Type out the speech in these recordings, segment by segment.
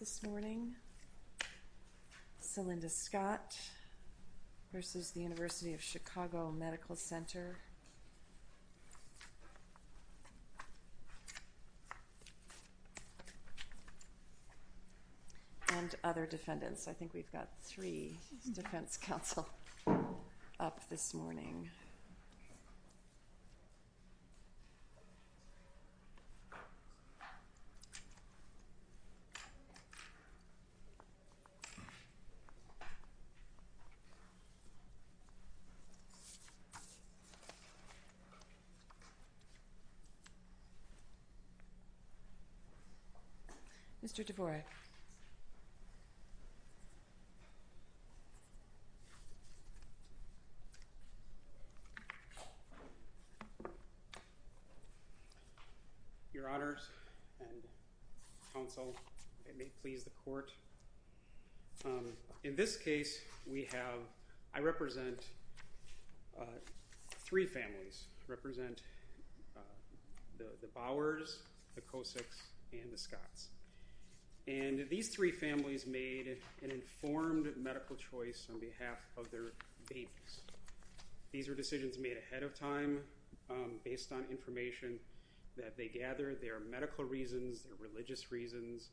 this morning, Cylinda Scott v. University of Chicago Medical Center, and other defendants. I think we've got three defense counsel up this morning. Mr. Dvorak. Your Honors and counsel, and may it please the court. In this case, we have, I represent three families. I represent the Bowers, the Kosicks, and the Scotts. And these three families made an informed medical choice on behalf of their babies. These were decisions made ahead of time, based on information that they gathered, their medical reasons, their religious reasons.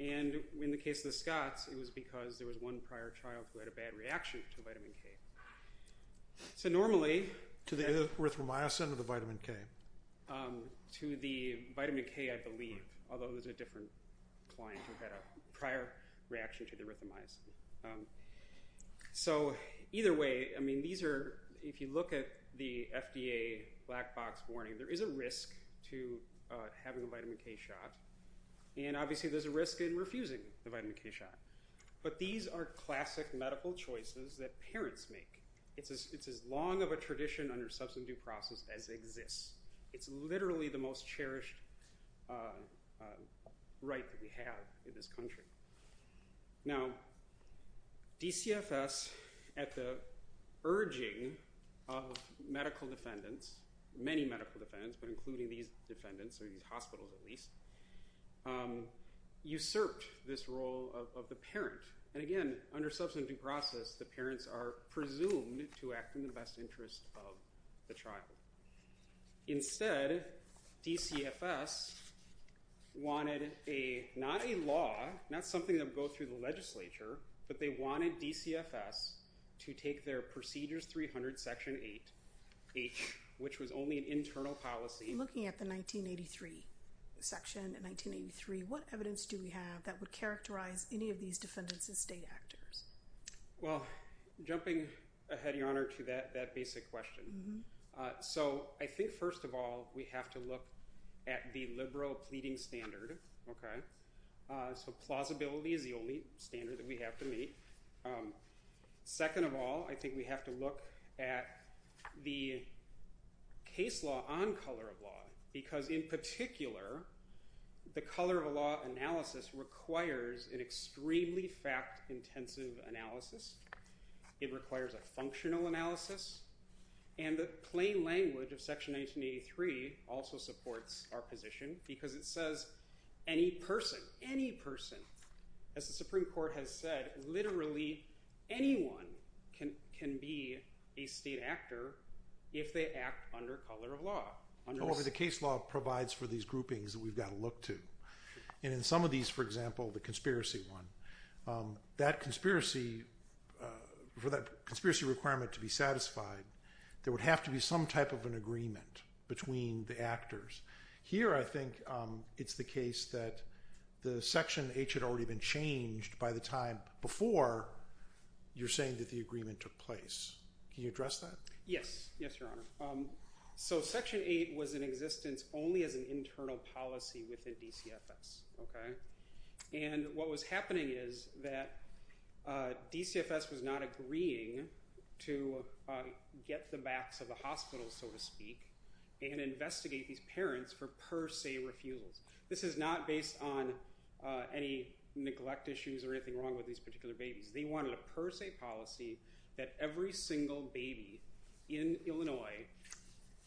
And in the case of the Scotts, it was because there was one prior child who had a bad reaction to vitamin K. So normally... To the erythromycin or the vitamin K? To the vitamin K, I believe. Although there's a different client who had a prior reaction to the erythromycin. So either way, I mean, these are, if you look at the FDA black box warning, there is a risk to having a vitamin K shot. And obviously there's a risk in refusing the vitamin K shot. But these are classic medical choices that parents make. It's as long of a tradition under substance abuse process as exists. It's literally the most cherished right that we have in this country. Now, DCFS, at the urging of medical defendants, many medical defendants, but including these defendants or these hospitals at least, usurped this role of the parent. And again, under substance abuse process, the parents are presumed to act in the best interest of the child. Instead, DCFS wanted not a law, not something that would go through the legislature, but they wanted DCFS to take their Procedures 300, Section 8H, which was only an internal policy. Looking at the 1983 section, in 1983, what evidence do we have that would characterize any of these defendants as state actors? Well, jumping ahead, Your Honor, to that basic question. So I think first of all, we have to look at the liberal pleading standard. So plausibility is the only standard that we have to meet. Second of all, I think we have to look at the case law on color of law. Because in particular, the color of law analysis requires an extremely fact-intensive analysis. It requires a functional analysis. And the plain language of Section 1983 also supports our position, because it says, any person, any person, as the Supreme Court has said, literally anyone can be a state actor if they act under color of law. However, the case law provides for these groupings that we've got to look to. And in some of these, for example, the conspiracy one, that conspiracy, for that conspiracy requirement to be satisfied, there would have to be some type of an agreement between the actors. Here, I think it's the case that the Section H had already been changed by the time before you're saying that the agreement took place. Can you address that? Yes, yes, Your Honor. So Section 8 was in existence only as an internal policy within DCFS. And what was happening is that DCFS was not agreeing to get the backs of the hospitals, so to speak, and investigate these parents for per se refusals. This is not based on any neglect issues or anything wrong with these particular babies. They wanted a per se policy that every single baby in Illinois,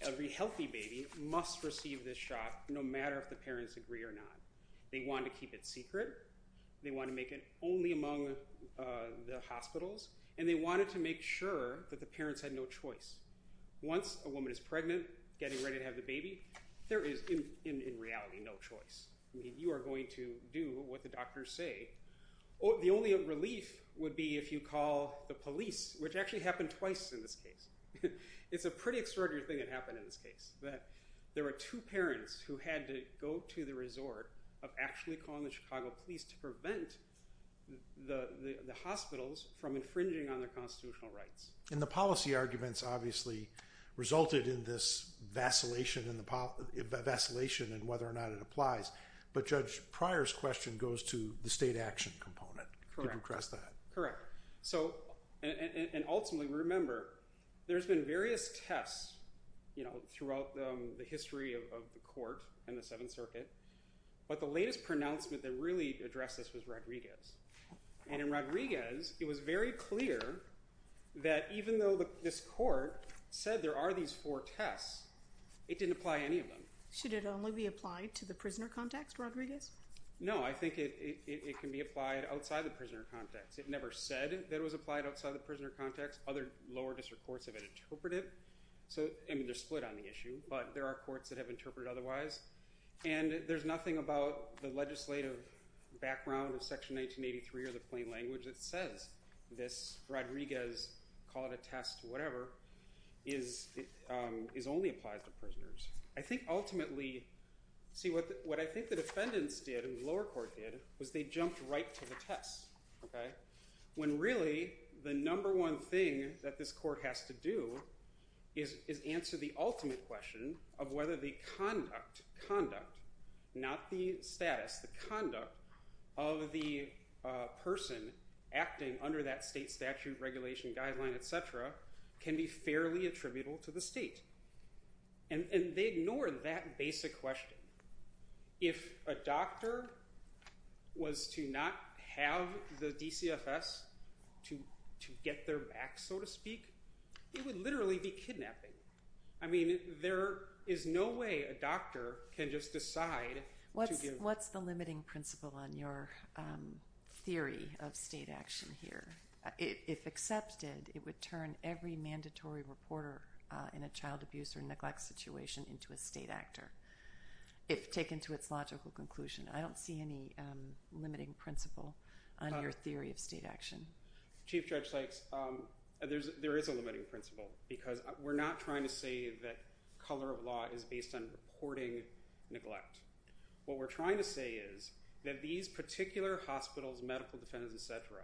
every healthy baby, must receive this shot, no matter if the parents agree or not. They wanted to keep it secret. They wanted to make it only among the hospitals. And they wanted to make sure that the parents had no choice. Once a woman is pregnant, getting ready to have the baby, there is, in reality, no choice. I mean, you are going to do what the doctors say. The only relief would be if you call the police, which actually happened twice in this case. It's a pretty extraordinary thing that happened in this case, that there were two parents who had to go to the resort of actually calling the Chicago police to prevent the hospitals from infringing on their constitutional rights. And the policy arguments, obviously, resulted in this vacillation in whether or not it applies. But Judge Pryor's question goes to the state action component. Correct. Correct. And ultimately, remember, there's been various tests throughout the history of the court and the Seventh Circuit. But the latest pronouncement that really addressed this was Rodriguez. And in Rodriguez, it was very clear that even though this court said there are these four tests, it didn't apply any of them. Should it only be applied to the prisoner context, Rodriguez? No, I think it can be applied outside the prisoner context. It never said that it was applied outside the prisoner context. Other lower district courts have interpreted it. I mean, they're split on the issue, but there are courts that have interpreted otherwise. And there's nothing about the legislative background of Section 1983 or the plain language that says this Rodriguez, call it a test, whatever, only applies to prisoners. I think ultimately, see, what I think the defendants did and the lower court did was they jumped right to the test. When really, the number one thing that this court has to do is answer the ultimate question of whether the conduct, conduct, not the status, the conduct of the person acting under that state statute, regulation, guideline, et cetera, can be fairly attributable to the state. And they ignored that basic question. If a doctor was to not have the DCFS to get their back, so to speak, it would literally be kidnapping. I mean, there is no way a doctor can just decide to give. What's the limiting principle on your theory of state action here? If accepted, it would turn every mandatory reporter in a child abuse or neglect situation into a state actor, if taken to its logical conclusion. I don't see any limiting principle on your theory of state action. Chief Judge Sykes, there is a limiting principle because we're not trying to say that color of law is based on reporting neglect. What we're trying to say is that these particular hospitals, medical defendants, et cetera,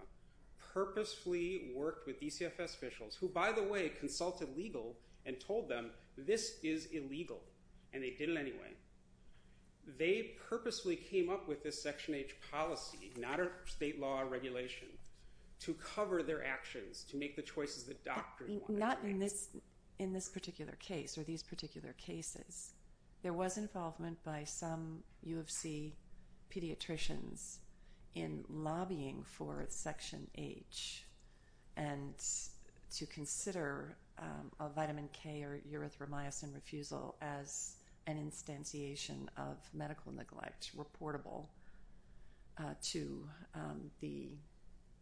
purposefully worked with DCFS officials, who, by the way, consulted legal and told them this is illegal, and they did it anyway. They purposefully came up with this Section H policy, not a state law or regulation, to cover their actions, to make the choices the doctor wanted. Not in this particular case or these particular cases. There was involvement by some U of C pediatricians in lobbying for Section H and to consider a vitamin K or erythromycin refusal as an instantiation of medical neglect reportable to the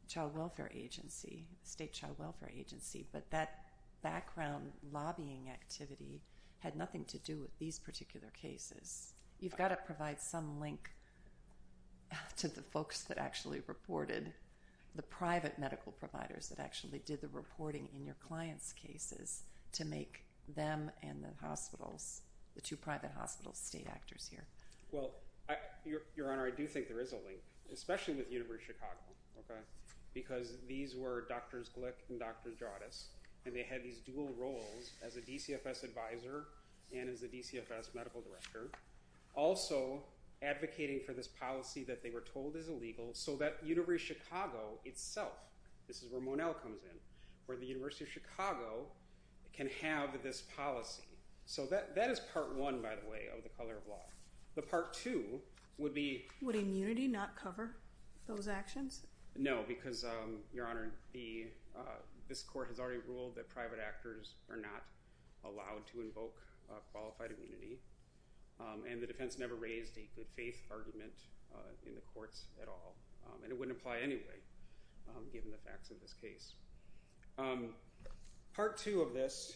child welfare agency, state child welfare agency. But that background lobbying activity had nothing to do with these particular cases. You've got to provide some link to the folks that actually reported, the private medical providers that actually did the reporting in your clients' cases to make them and the two private hospitals state actors here. Well, Your Honor, I do think there is a link, especially with University of Chicago, because these were Drs. Glick and Drs. Jardis, and they had these dual roles as a DCFS advisor and as a DCFS medical director, also advocating for this policy that they were told is illegal so that University of Chicago itself, this is where Monell comes in, where the University of Chicago can have this policy. So that is Part 1, by the way, of the color of law. The Part 2 would be... Would immunity not cover those actions? No, because, Your Honor, this court has already ruled that private actors are not allowed to invoke qualified immunity, and the defense never raised a good-faith argument in the courts at all, and it wouldn't apply anyway, given the facts of this case. Part 2 of this,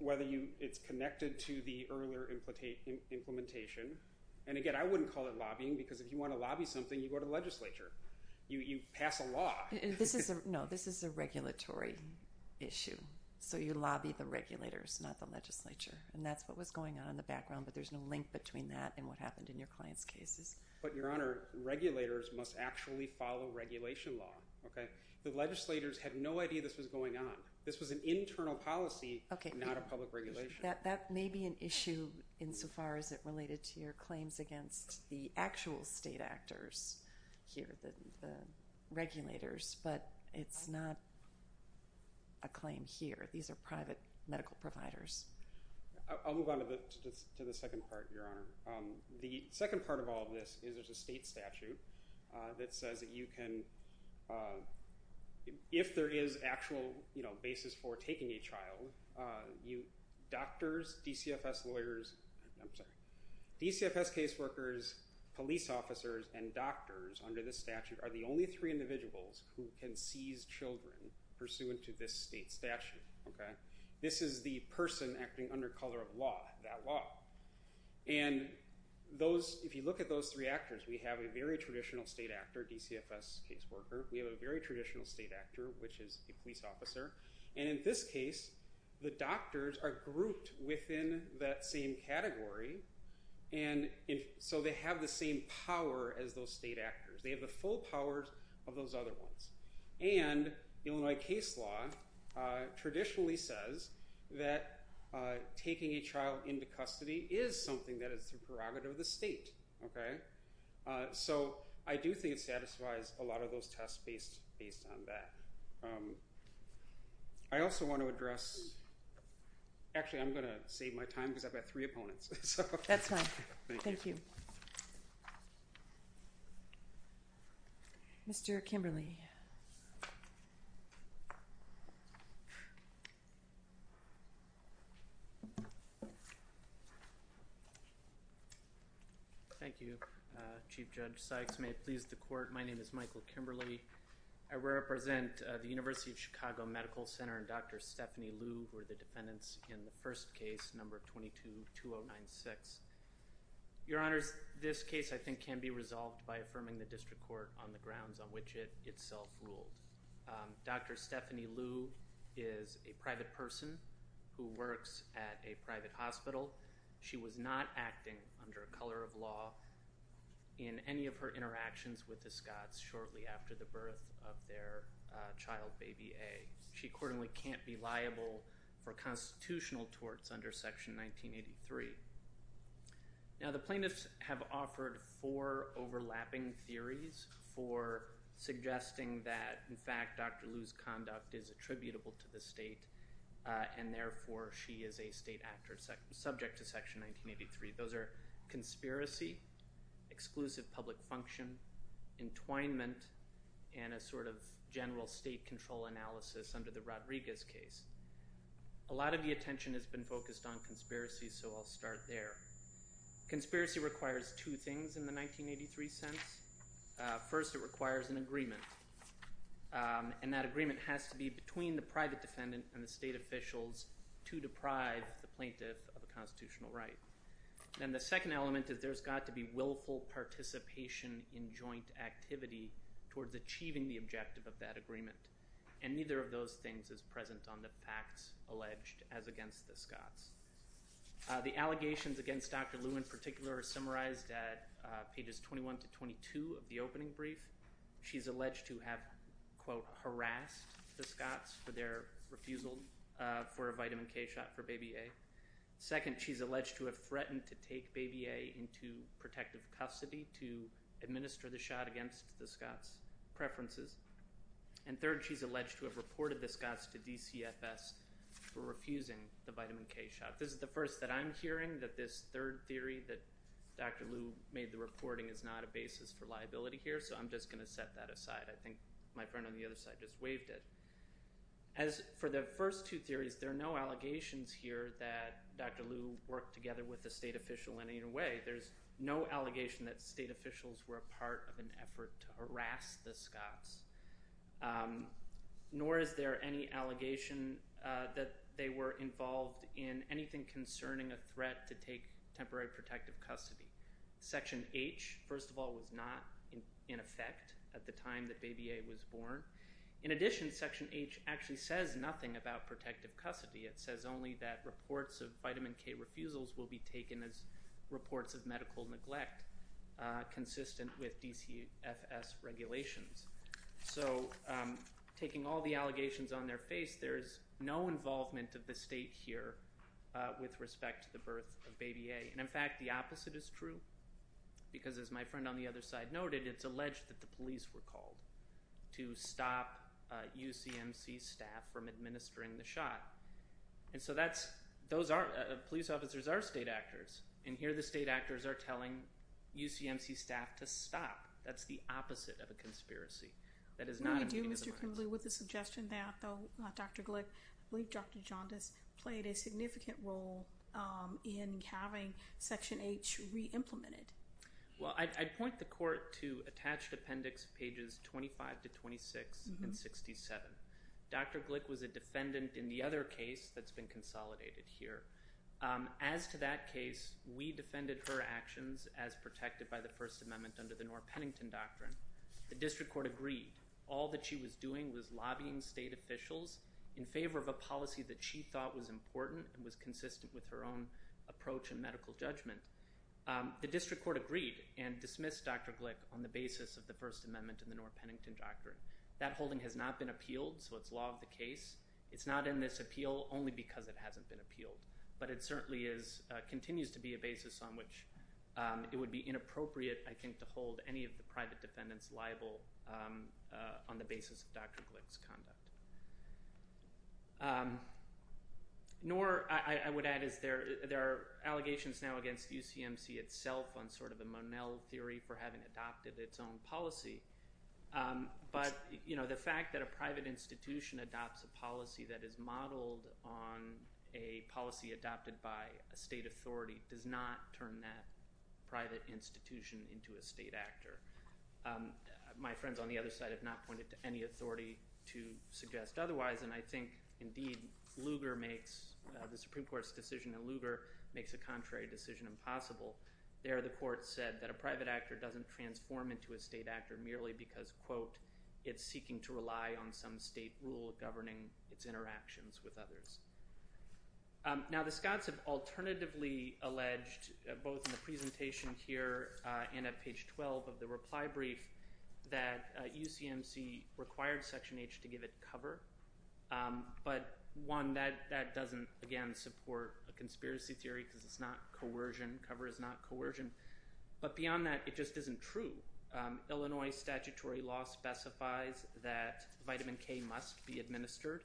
whether it's connected to the earlier implementation, and again, I wouldn't call it lobbying, because if you want to lobby something, you go to the legislature. You pass a law. No, this is a regulatory issue, so you lobby the regulators, not the legislature, and that's what was going on in the background, but there's no link between that and what happened in your client's cases. But, Your Honor, regulators must actually follow regulation law. The legislators had no idea this was going on. This was an internal policy, not a public regulation. That may be an issue insofar as it related to your claims against the actual state actors here, the regulators, but it's not a claim here. These are private medical providers. I'll move on to the second part, Your Honor. The second part of all of this is there's a state statute that says that you can, if there is actual basis for taking a child, doctors, DCFS lawyers, I'm sorry, DCFS caseworkers, police officers, and doctors under this statute are the only three individuals who can seize children pursuant to this state statute. This is the person acting under color of law, that law, and if you look at those three actors, we have a very traditional state actor, DCFS caseworker. We have a very traditional state actor, which is a police officer, and in this case, the doctors are grouped within that same category, and so they have the same power as those state actors. They have the full powers of those other ones. And Illinois case law traditionally says that taking a child into custody is something that is the prerogative of the state. So I do think it satisfies a lot of those tests based on that. I also want to address, actually I'm going to save my time because I've got three opponents. That's fine. Thank you. Mr. Kimberly. Thank you, Chief Judge Sykes. May it please the court, my name is Michael Kimberly. I represent the University of Chicago Medical Center and Dr. Stephanie Liu, who are the defendants in the first case, number 22-2096. Your Honors, this case I think can be resolved by affirming the district court on the grounds on which it itself ruled. Dr. Stephanie Liu is a private person who works at a private hospital. She was not acting under a color of law in any of her interactions with the Scots shortly after the birth of their child, Baby A. She accordingly can't be liable for constitutional torts under Section 1983. Now the plaintiffs have offered four overlapping theories for suggesting that, in fact, Dr. Liu's conduct is attributable to the state, and therefore she is a state actor subject to Section 1983. Those are conspiracy, exclusive public function, entwinement, and a sort of general state control analysis under the Rodriguez case. A lot of the attention has been focused on conspiracy, so I'll start there. Conspiracy requires two things in the 1983 sense. First, it requires an agreement, and that agreement has to be between the private defendant and the state officials to deprive the plaintiff of a constitutional right. Then the second element is there's got to be willful participation in joint activity towards achieving the objective of that agreement, and neither of those things is present on the facts alleged as against the Scots. The allegations against Dr. Liu in particular are summarized at pages 21-22 of the opening brief. She's alleged to have, quote, harassed the Scots for their refusal for a vitamin K shot for baby A. Second, she's alleged to have threatened to take baby A into protective custody to administer the shot against the Scots' preferences. And third, she's alleged to have reported the Scots to DCFS for refusing the vitamin K shot. This is the first that I'm hearing that this third theory that Dr. Liu made the reporting is not a basis for liability here, so I'm just going to set that aside. I think my friend on the other side just waived it. As for the first two theories, there are no allegations here that Dr. Liu worked together with a state official in any way. There's no allegation that state officials were a part of an effort to harass the Scots, nor is there any allegation that they were involved in anything concerning a threat to take temporary protective custody. Section H, first of all, was not in effect at the time that baby A was born. In addition, Section H actually says nothing about protective custody. It says only that reports of vitamin K refusals will be taken as reports of medical neglect, consistent with DCFS regulations. So taking all the allegations on their face, there is no involvement of the state here with respect to the birth of baby A. In fact, the opposite is true because, as my friend on the other side noted, it's alleged that the police were called to stop UCMC staff from administering the shot. And so police officers are state actors, and here the state actors are telling UCMC staff to stop. That's the opposite of a conspiracy. That is not a meeting of the minds. No, we do, Mr. Kimblee, with the suggestion that Dr. Glick, I believe Dr. Jaundice, played a significant role in having Section H re-implemented. Well, I'd point the court to attached appendix pages 25 to 26 and 67. Dr. Glick was a defendant in the other case that's been consolidated here. As to that case, we defended her actions as protected by the First Amendment under the Norr-Pennington Doctrine. The district court agreed. All that she was doing was lobbying state officials in favor of a policy that she thought was important and was consistent with her own approach and medical judgment. The district court agreed and dismissed Dr. Glick on the basis of the First Amendment and the Norr-Pennington Doctrine. That holding has not been appealed, so it's law of the case. It's not in this appeal only because it hasn't been appealed, but it certainly continues to be a basis on which it would be inappropriate, I think, to hold any of the private defendants liable on the basis of Dr. Glick's conduct. Norr, I would add, is there are allegations now against UCMC itself on sort of a Monell theory for having adopted its own policy, but the fact that a private institution adopts a policy that is modeled on a policy adopted by a state authority does not turn that private institution into a state actor. My friends on the other side have not pointed to any authority to suggest otherwise, and I think, indeed, Lugar makes the Supreme Court's decision, and Lugar makes a contrary decision impossible. There the court said that a private actor doesn't transform into a state actor merely because, quote, it's seeking to rely on some state rule governing its interactions with others. Now the Scots have alternatively alleged both in the presentation here and at page 12 of the reply brief that UCMC required Section H to give it cover, but one, that doesn't, again, support a conspiracy theory because it's not coercion. Cover is not coercion. But beyond that, it just isn't true. Illinois statutory law specifies that vitamin K must be administered.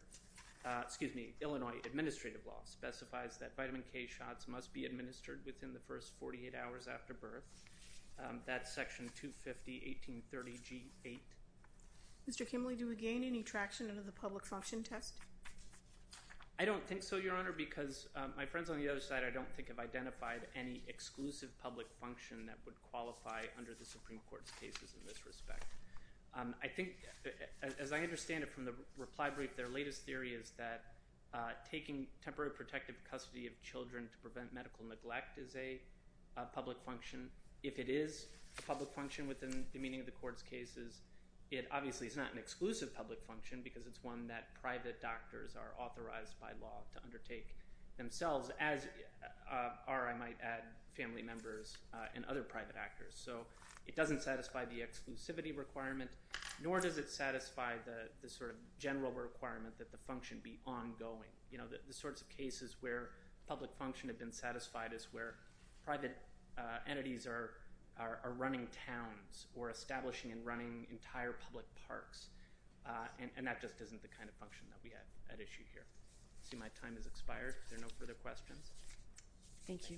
Excuse me. Illinois administrative law specifies that vitamin K shots must be administered within the first 48 hours after birth. That's Section 250, 1830G8. Mr. Kimley, do we gain any traction under the public function test? I don't think so, Your Honor, because my friends on the other side, I don't think, have identified any exclusive public function that would qualify under the Supreme Court's cases in this respect. I think, as I understand it from the reply brief, their latest theory is that taking temporary protective custody of children to prevent medical neglect is a public function. If it is a public function within the meaning of the court's cases, it obviously is not an exclusive public function because it's one that private doctors are authorized by law to undertake themselves, as are, I might add, family members and other private actors. So it doesn't satisfy the exclusivity requirement, nor does it satisfy the sort of general requirement that the function be ongoing. You know, the sorts of cases where public function had been satisfied is where private entities are running towns or establishing and running entire public parks, and that just isn't the kind of function that we have at issue here. I see my time has expired. Are there no further questions? Thank you.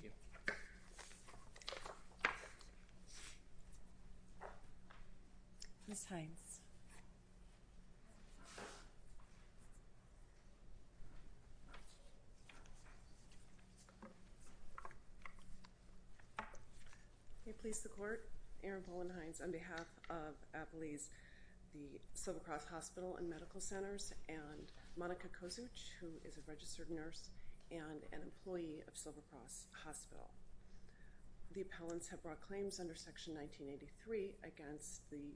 Ms. Hines. May it please the Court. Erin Bowen Hines on behalf of Applease, the Silver Cross Hospital and Medical Centers, and Monica Kozuch, who is a registered nurse and an employee of Silver Cross Hospital. The appellants have brought claims under Section 1983 against the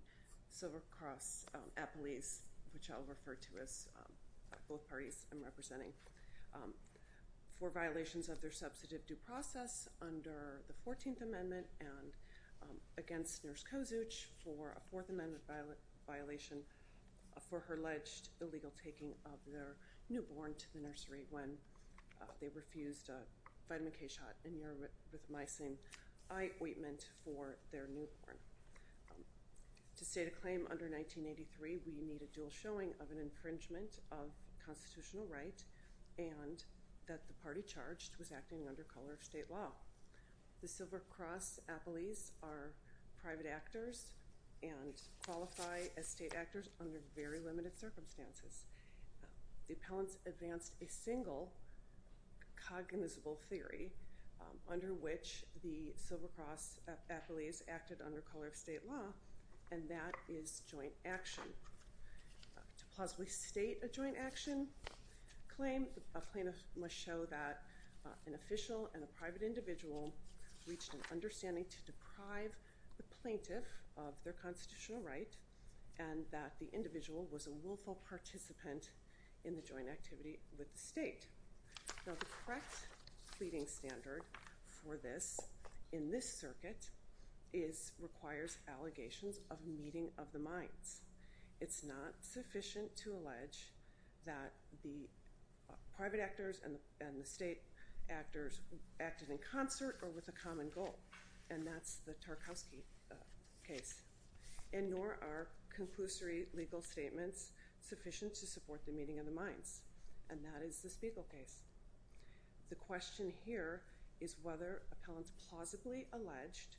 Silver Cross Applease, which I'll refer to as both parties I'm representing, for violations of their substantive due process under the 14th Amendment and against Nurse Kozuch for a Fourth Amendment violation for her alleged illegal taking of their newborn to the nursery when they refused a vitamin K shot and neuromycin eye ointment for their newborn. To state a claim under 1983, we need a dual showing of an infringement of constitutional right and that the party charged was acting under color of state law. The Silver Cross Applease are private actors and qualify as state actors under very limited circumstances. The appellants advanced a single cognizable theory under which the Silver Cross Applease acted under color of state law, and that is joint action. To plausibly state a joint action claim, a plaintiff must show that an official and a private individual reached an understanding to deprive the plaintiff of their constitutional right and that the individual was a willful participant in the joint activity with the state. Now, the correct pleading standard for this in this circuit requires allegations of meeting of the minds. It's not sufficient to allege that the private actors and the state actors acted in concert or with a common goal, and that's the Tarkovsky case, and nor are conclusory legal statements sufficient to support the meeting of the minds, and that is the Spiegel case. The question here is whether appellants plausibly alleged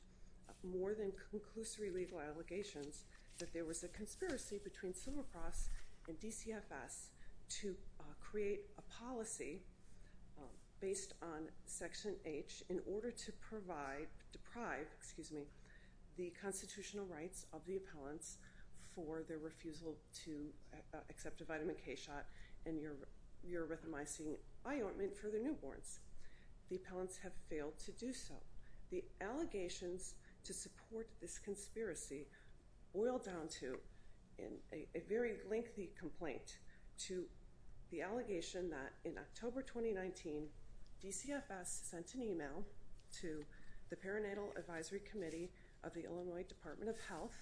more than conclusory legal allegations that there was a conspiracy between Silver Cross and DCFS to create a policy based on Section H in order to deprive the constitutional rights of the appellants for their refusal to accept a vitamin K shot and your rhythmizing eye ointment for the newborns. The appellants have failed to do so. The allegations to support this conspiracy boil down to a very lengthy complaint, to the allegation that in October 2019, DCFS sent an email to the Perinatal Advisory Committee of the Illinois Department of Health,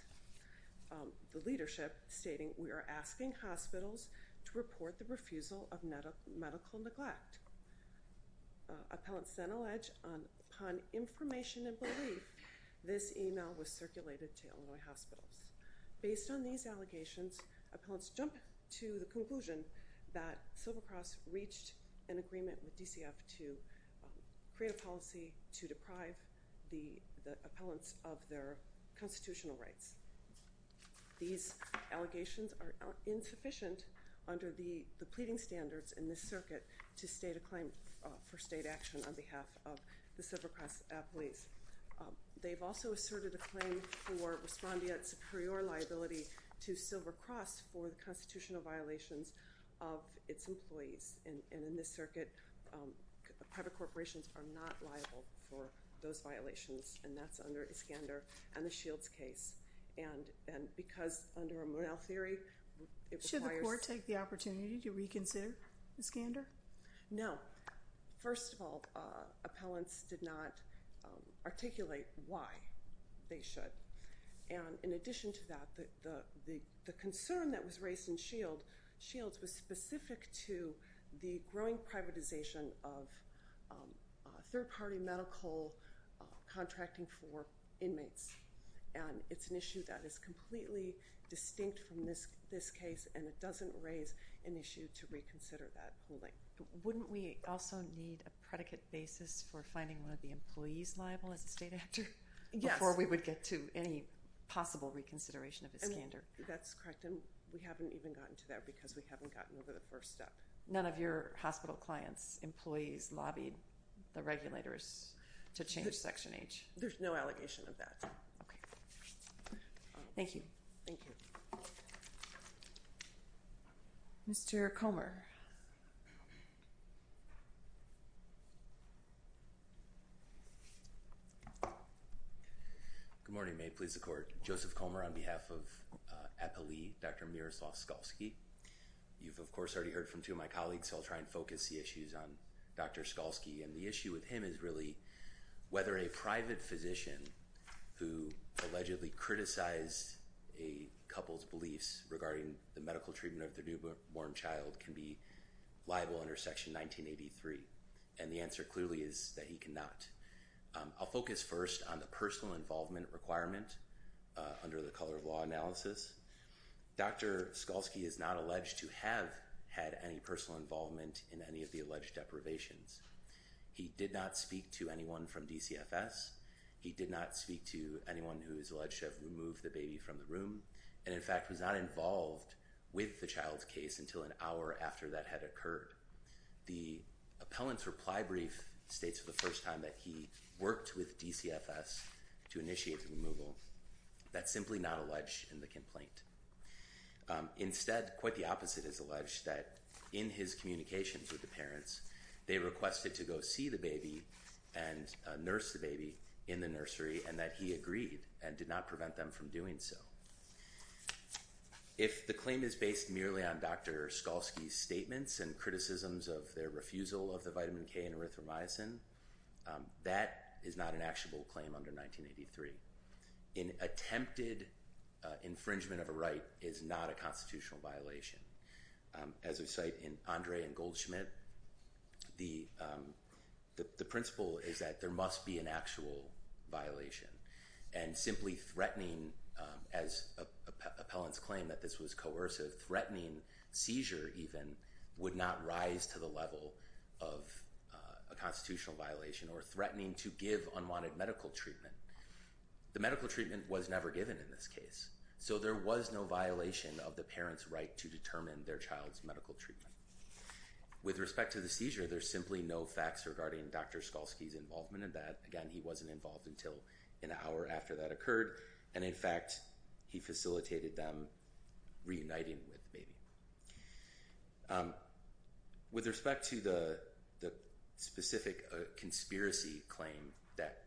the leadership, stating, we are asking hospitals to report the refusal of medical neglect. Appellants then allege upon information and belief, this email was circulated to Illinois hospitals. Based on these allegations, appellants jump to the conclusion that Silver Cross reached an agreement with DCFS to create a policy to deprive the appellants of their constitutional rights. These allegations are insufficient under the pleading standards in this circuit to state a claim for state action on behalf of the Silver Cross appellees. They've also asserted a claim for respondeat superior liability to Silver Cross for the constitutional violations of its employees. And in this circuit, private corporations are not liable for those violations, and that's under Iskander and the Shields case. And because under a Monell theory, it requires- Should the court take the opportunity to reconsider Iskander? No. First of all, appellants did not articulate why they should. And in addition to that, the concern that was raised in Shields was specific to the growing privatization of third-party medical contracting for inmates. And it's an issue that is completely distinct from this case, and it doesn't raise an issue to reconsider that holding. Wouldn't we also need a predicate basis for finding one of the employees liable as a state actor? Yes. Before we would get to any possible reconsideration of Iskander. That's correct, and we haven't even gotten to that because we haven't gotten over the first step. None of your hospital clients' employees lobbied the regulators to change Section H? There's no allegation of that. Thank you. Thank you. Mr. Comer. Good morning. May it please the court. Joseph Comer on behalf of Appellee Dr. Miroslav Skalski. You've, of course, already heard from two of my colleagues, so I'll try and focus the issues on Dr. Skalski. And the issue with him is really whether a private physician who allegedly criticized a couple's beliefs regarding the medical treatment of their newborn child can be liable under Section 1983. And the answer clearly is that he cannot. I'll focus first on the personal involvement requirement under the color of law analysis. Dr. Skalski is not alleged to have had any personal involvement in any of the alleged deprivations. He did not speak to anyone from DCFS. He did not speak to anyone who is alleged to have removed the baby from the room and, in fact, was not involved with the child's case until an hour after that had occurred. The appellant's reply brief states for the first time that he worked with DCFS to initiate the removal. That's simply not alleged in the complaint. Instead, quite the opposite is alleged, that in his communications with the parents, they requested to go see the baby and nurse the baby in the nursery and that he agreed and did not prevent them from doing so. If the claim is based merely on Dr. Skalski's statements and criticisms of their refusal of the vitamin K and erythromycin, that is not an actual claim under 1983. An attempted infringement of a right is not a constitutional violation. As we cite in Andre and Goldschmidt, the principle is that there must be an actual violation. And simply threatening, as appellants claim that this was coercive, threatening seizure even, would not rise to the level of a constitutional violation or threatening to give unwanted medical treatment. The medical treatment was never given in this case. So there was no violation of the parent's right to determine their child's medical treatment. With respect to the seizure, there's simply no facts regarding Dr. Skalski's involvement in that. Again, he wasn't involved until an hour after that occurred. And in fact, he facilitated them reuniting with the baby. With respect to the specific conspiracy claim that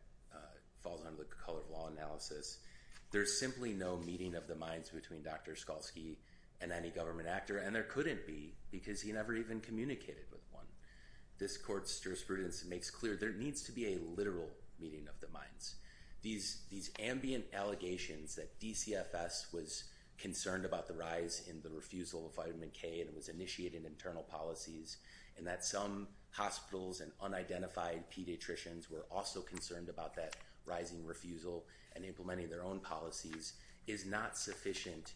falls under the color of law analysis, there's simply no meeting of the minds between Dr. Skalski and any government actor. And there couldn't be because he never even communicated with one. This court's jurisprudence makes clear there needs to be a literal meeting of the minds. These ambient allegations that DCFS was concerned about the rise in the refusal of vitamin K and it was initiated in internal policies, and that some hospitals and unidentified pediatricians were also concerned about that rising refusal and implementing their own policies, is not sufficient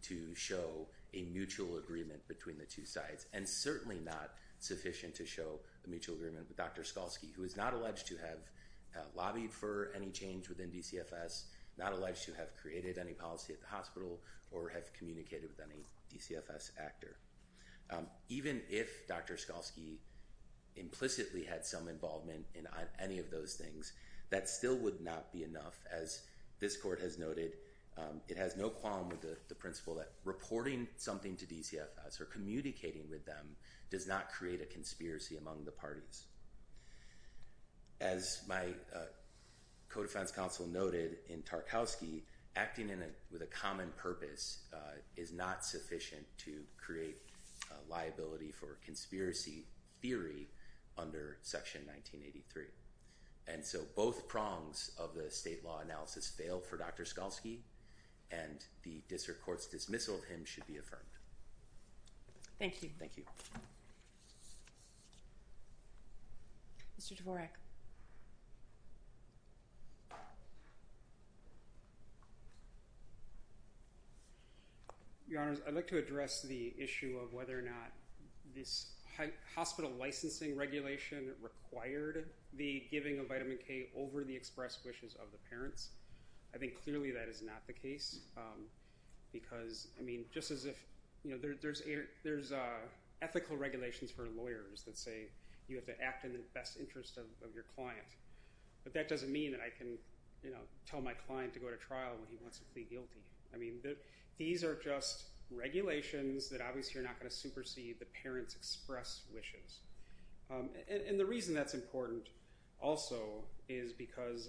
to show a mutual agreement between the two sides. And certainly not sufficient to show a mutual agreement with Dr. Skalski, who is not alleged to have lobbied for any change within DCFS, not alleged to have created any policy at the hospital, or have communicated with any DCFS actor. Even if Dr. Skalski implicitly had some involvement in any of those things, that still would not be enough. As this court has noted, it has no qualm with the principle that reporting something to DCFS or communicating with them does not create a conspiracy among the parties. As my co-defense counsel noted in Tarkowski, acting with a common purpose is not sufficient to create liability for conspiracy theory under Section 1983. And so both prongs of the state law analysis fail for Dr. Skalski, and the district court's dismissal of him should be affirmed. Thank you. Thank you. Mr. Dvorak. Your Honors, I'd like to address the issue of whether or not this hospital licensing regulation required the giving of vitamin K over the express wishes of the parents. I think clearly that is not the case, because, I mean, just as if, you know, there's ethical regulations for lawyers that say you have to act in the best interest of your client. But that doesn't mean that I can, you know, tell my client to go to trial when he wants to plead guilty. I mean, these are just regulations that obviously are not going to supersede the parents' express wishes. And the reason that's important also is because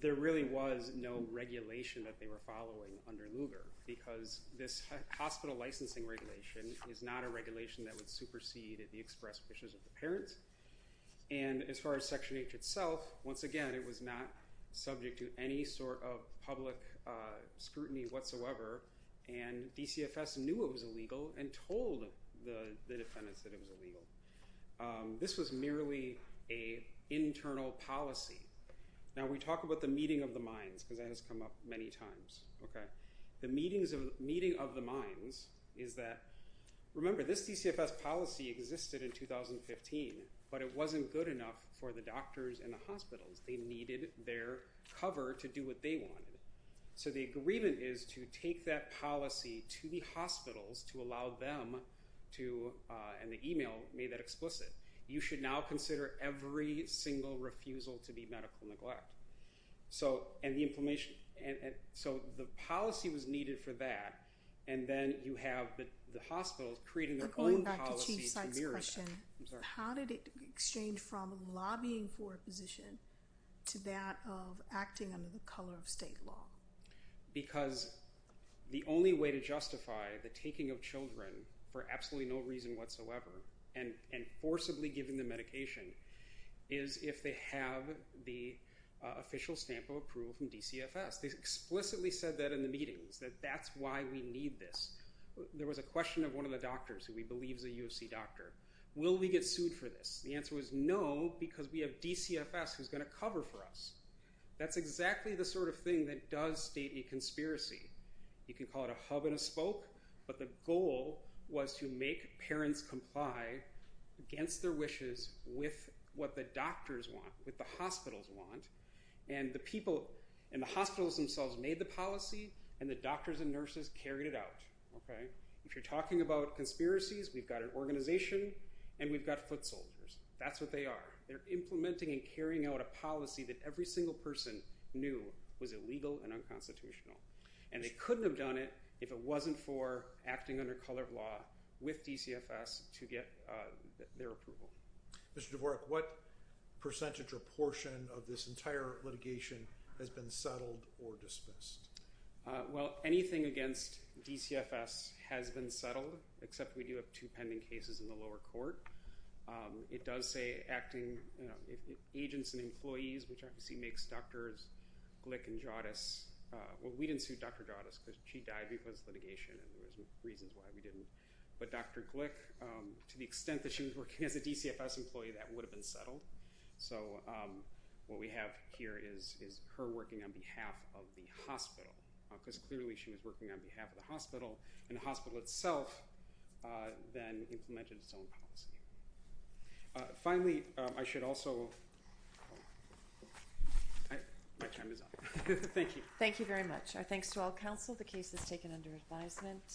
there really was no regulation that they were following under Lugar, because this hospital licensing regulation is not a regulation that would supersede the express wishes of the parents. And as far as Section H itself, once again, it was not subject to any sort of public scrutiny whatsoever, and DCFS knew it was illegal and told the defendants that it was illegal. This was merely an internal policy. Now, we talk about the meeting of the minds, because that has come up many times. The meeting of the minds is that, remember, this DCFS policy existed in 2015, but it wasn't good enough for the doctors and the hospitals. They needed their cover to do what they wanted. So the agreement is to take that policy to the hospitals to allow them to, and the email made that explicit, you should now consider every single refusal to be medical neglect. So the policy was needed for that, and then you have the hospitals creating their own policy to mirror that. Going back to Chief Sykes' question, how did it exchange from lobbying for a position to that of acting under the color of state law? Because the only way to justify the taking of children for absolutely no reason whatsoever and forcibly giving them medication is if they have the official stamp of approval from DCFS. They explicitly said that in the meetings, that that's why we need this. There was a question of one of the doctors who we believe is a U of C doctor. Will we get sued for this? The answer was no, because we have DCFS who's going to cover for us. That's exactly the sort of thing that does state a conspiracy. You can call it a hub and a spoke, but the goal was to make parents comply against their wishes with what the doctors want, what the hospitals want. And the people in the hospitals themselves made the policy, and the doctors and nurses carried it out. If you're talking about conspiracies, we've got an organization, and we've got foot soldiers. That's what they are. They're implementing and carrying out a policy that every single person knew was illegal and unconstitutional. And they couldn't have done it if it wasn't for acting under color of law with DCFS to get their approval. Mr. Dvorak, what percentage or portion of this entire litigation has been settled or dismissed? Well, anything against DCFS has been settled, except we do have two pending cases in the lower court. It does say acting agents and employees, which obviously makes doctors Glick and Jadis. Well, we didn't sue Dr. Jadis because she died because of litigation, and there was reasons why we didn't. But Dr. Glick, to the extent that she was working as a DCFS employee, that would have been settled. So what we have here is her working on behalf of the hospital, because clearly she was working on behalf of the hospital. And the hospital itself then implemented its own policy. Finally, I should also – my time is up. Thank you. Thank you very much. Our thanks to all counsel. The case is taken under advisement.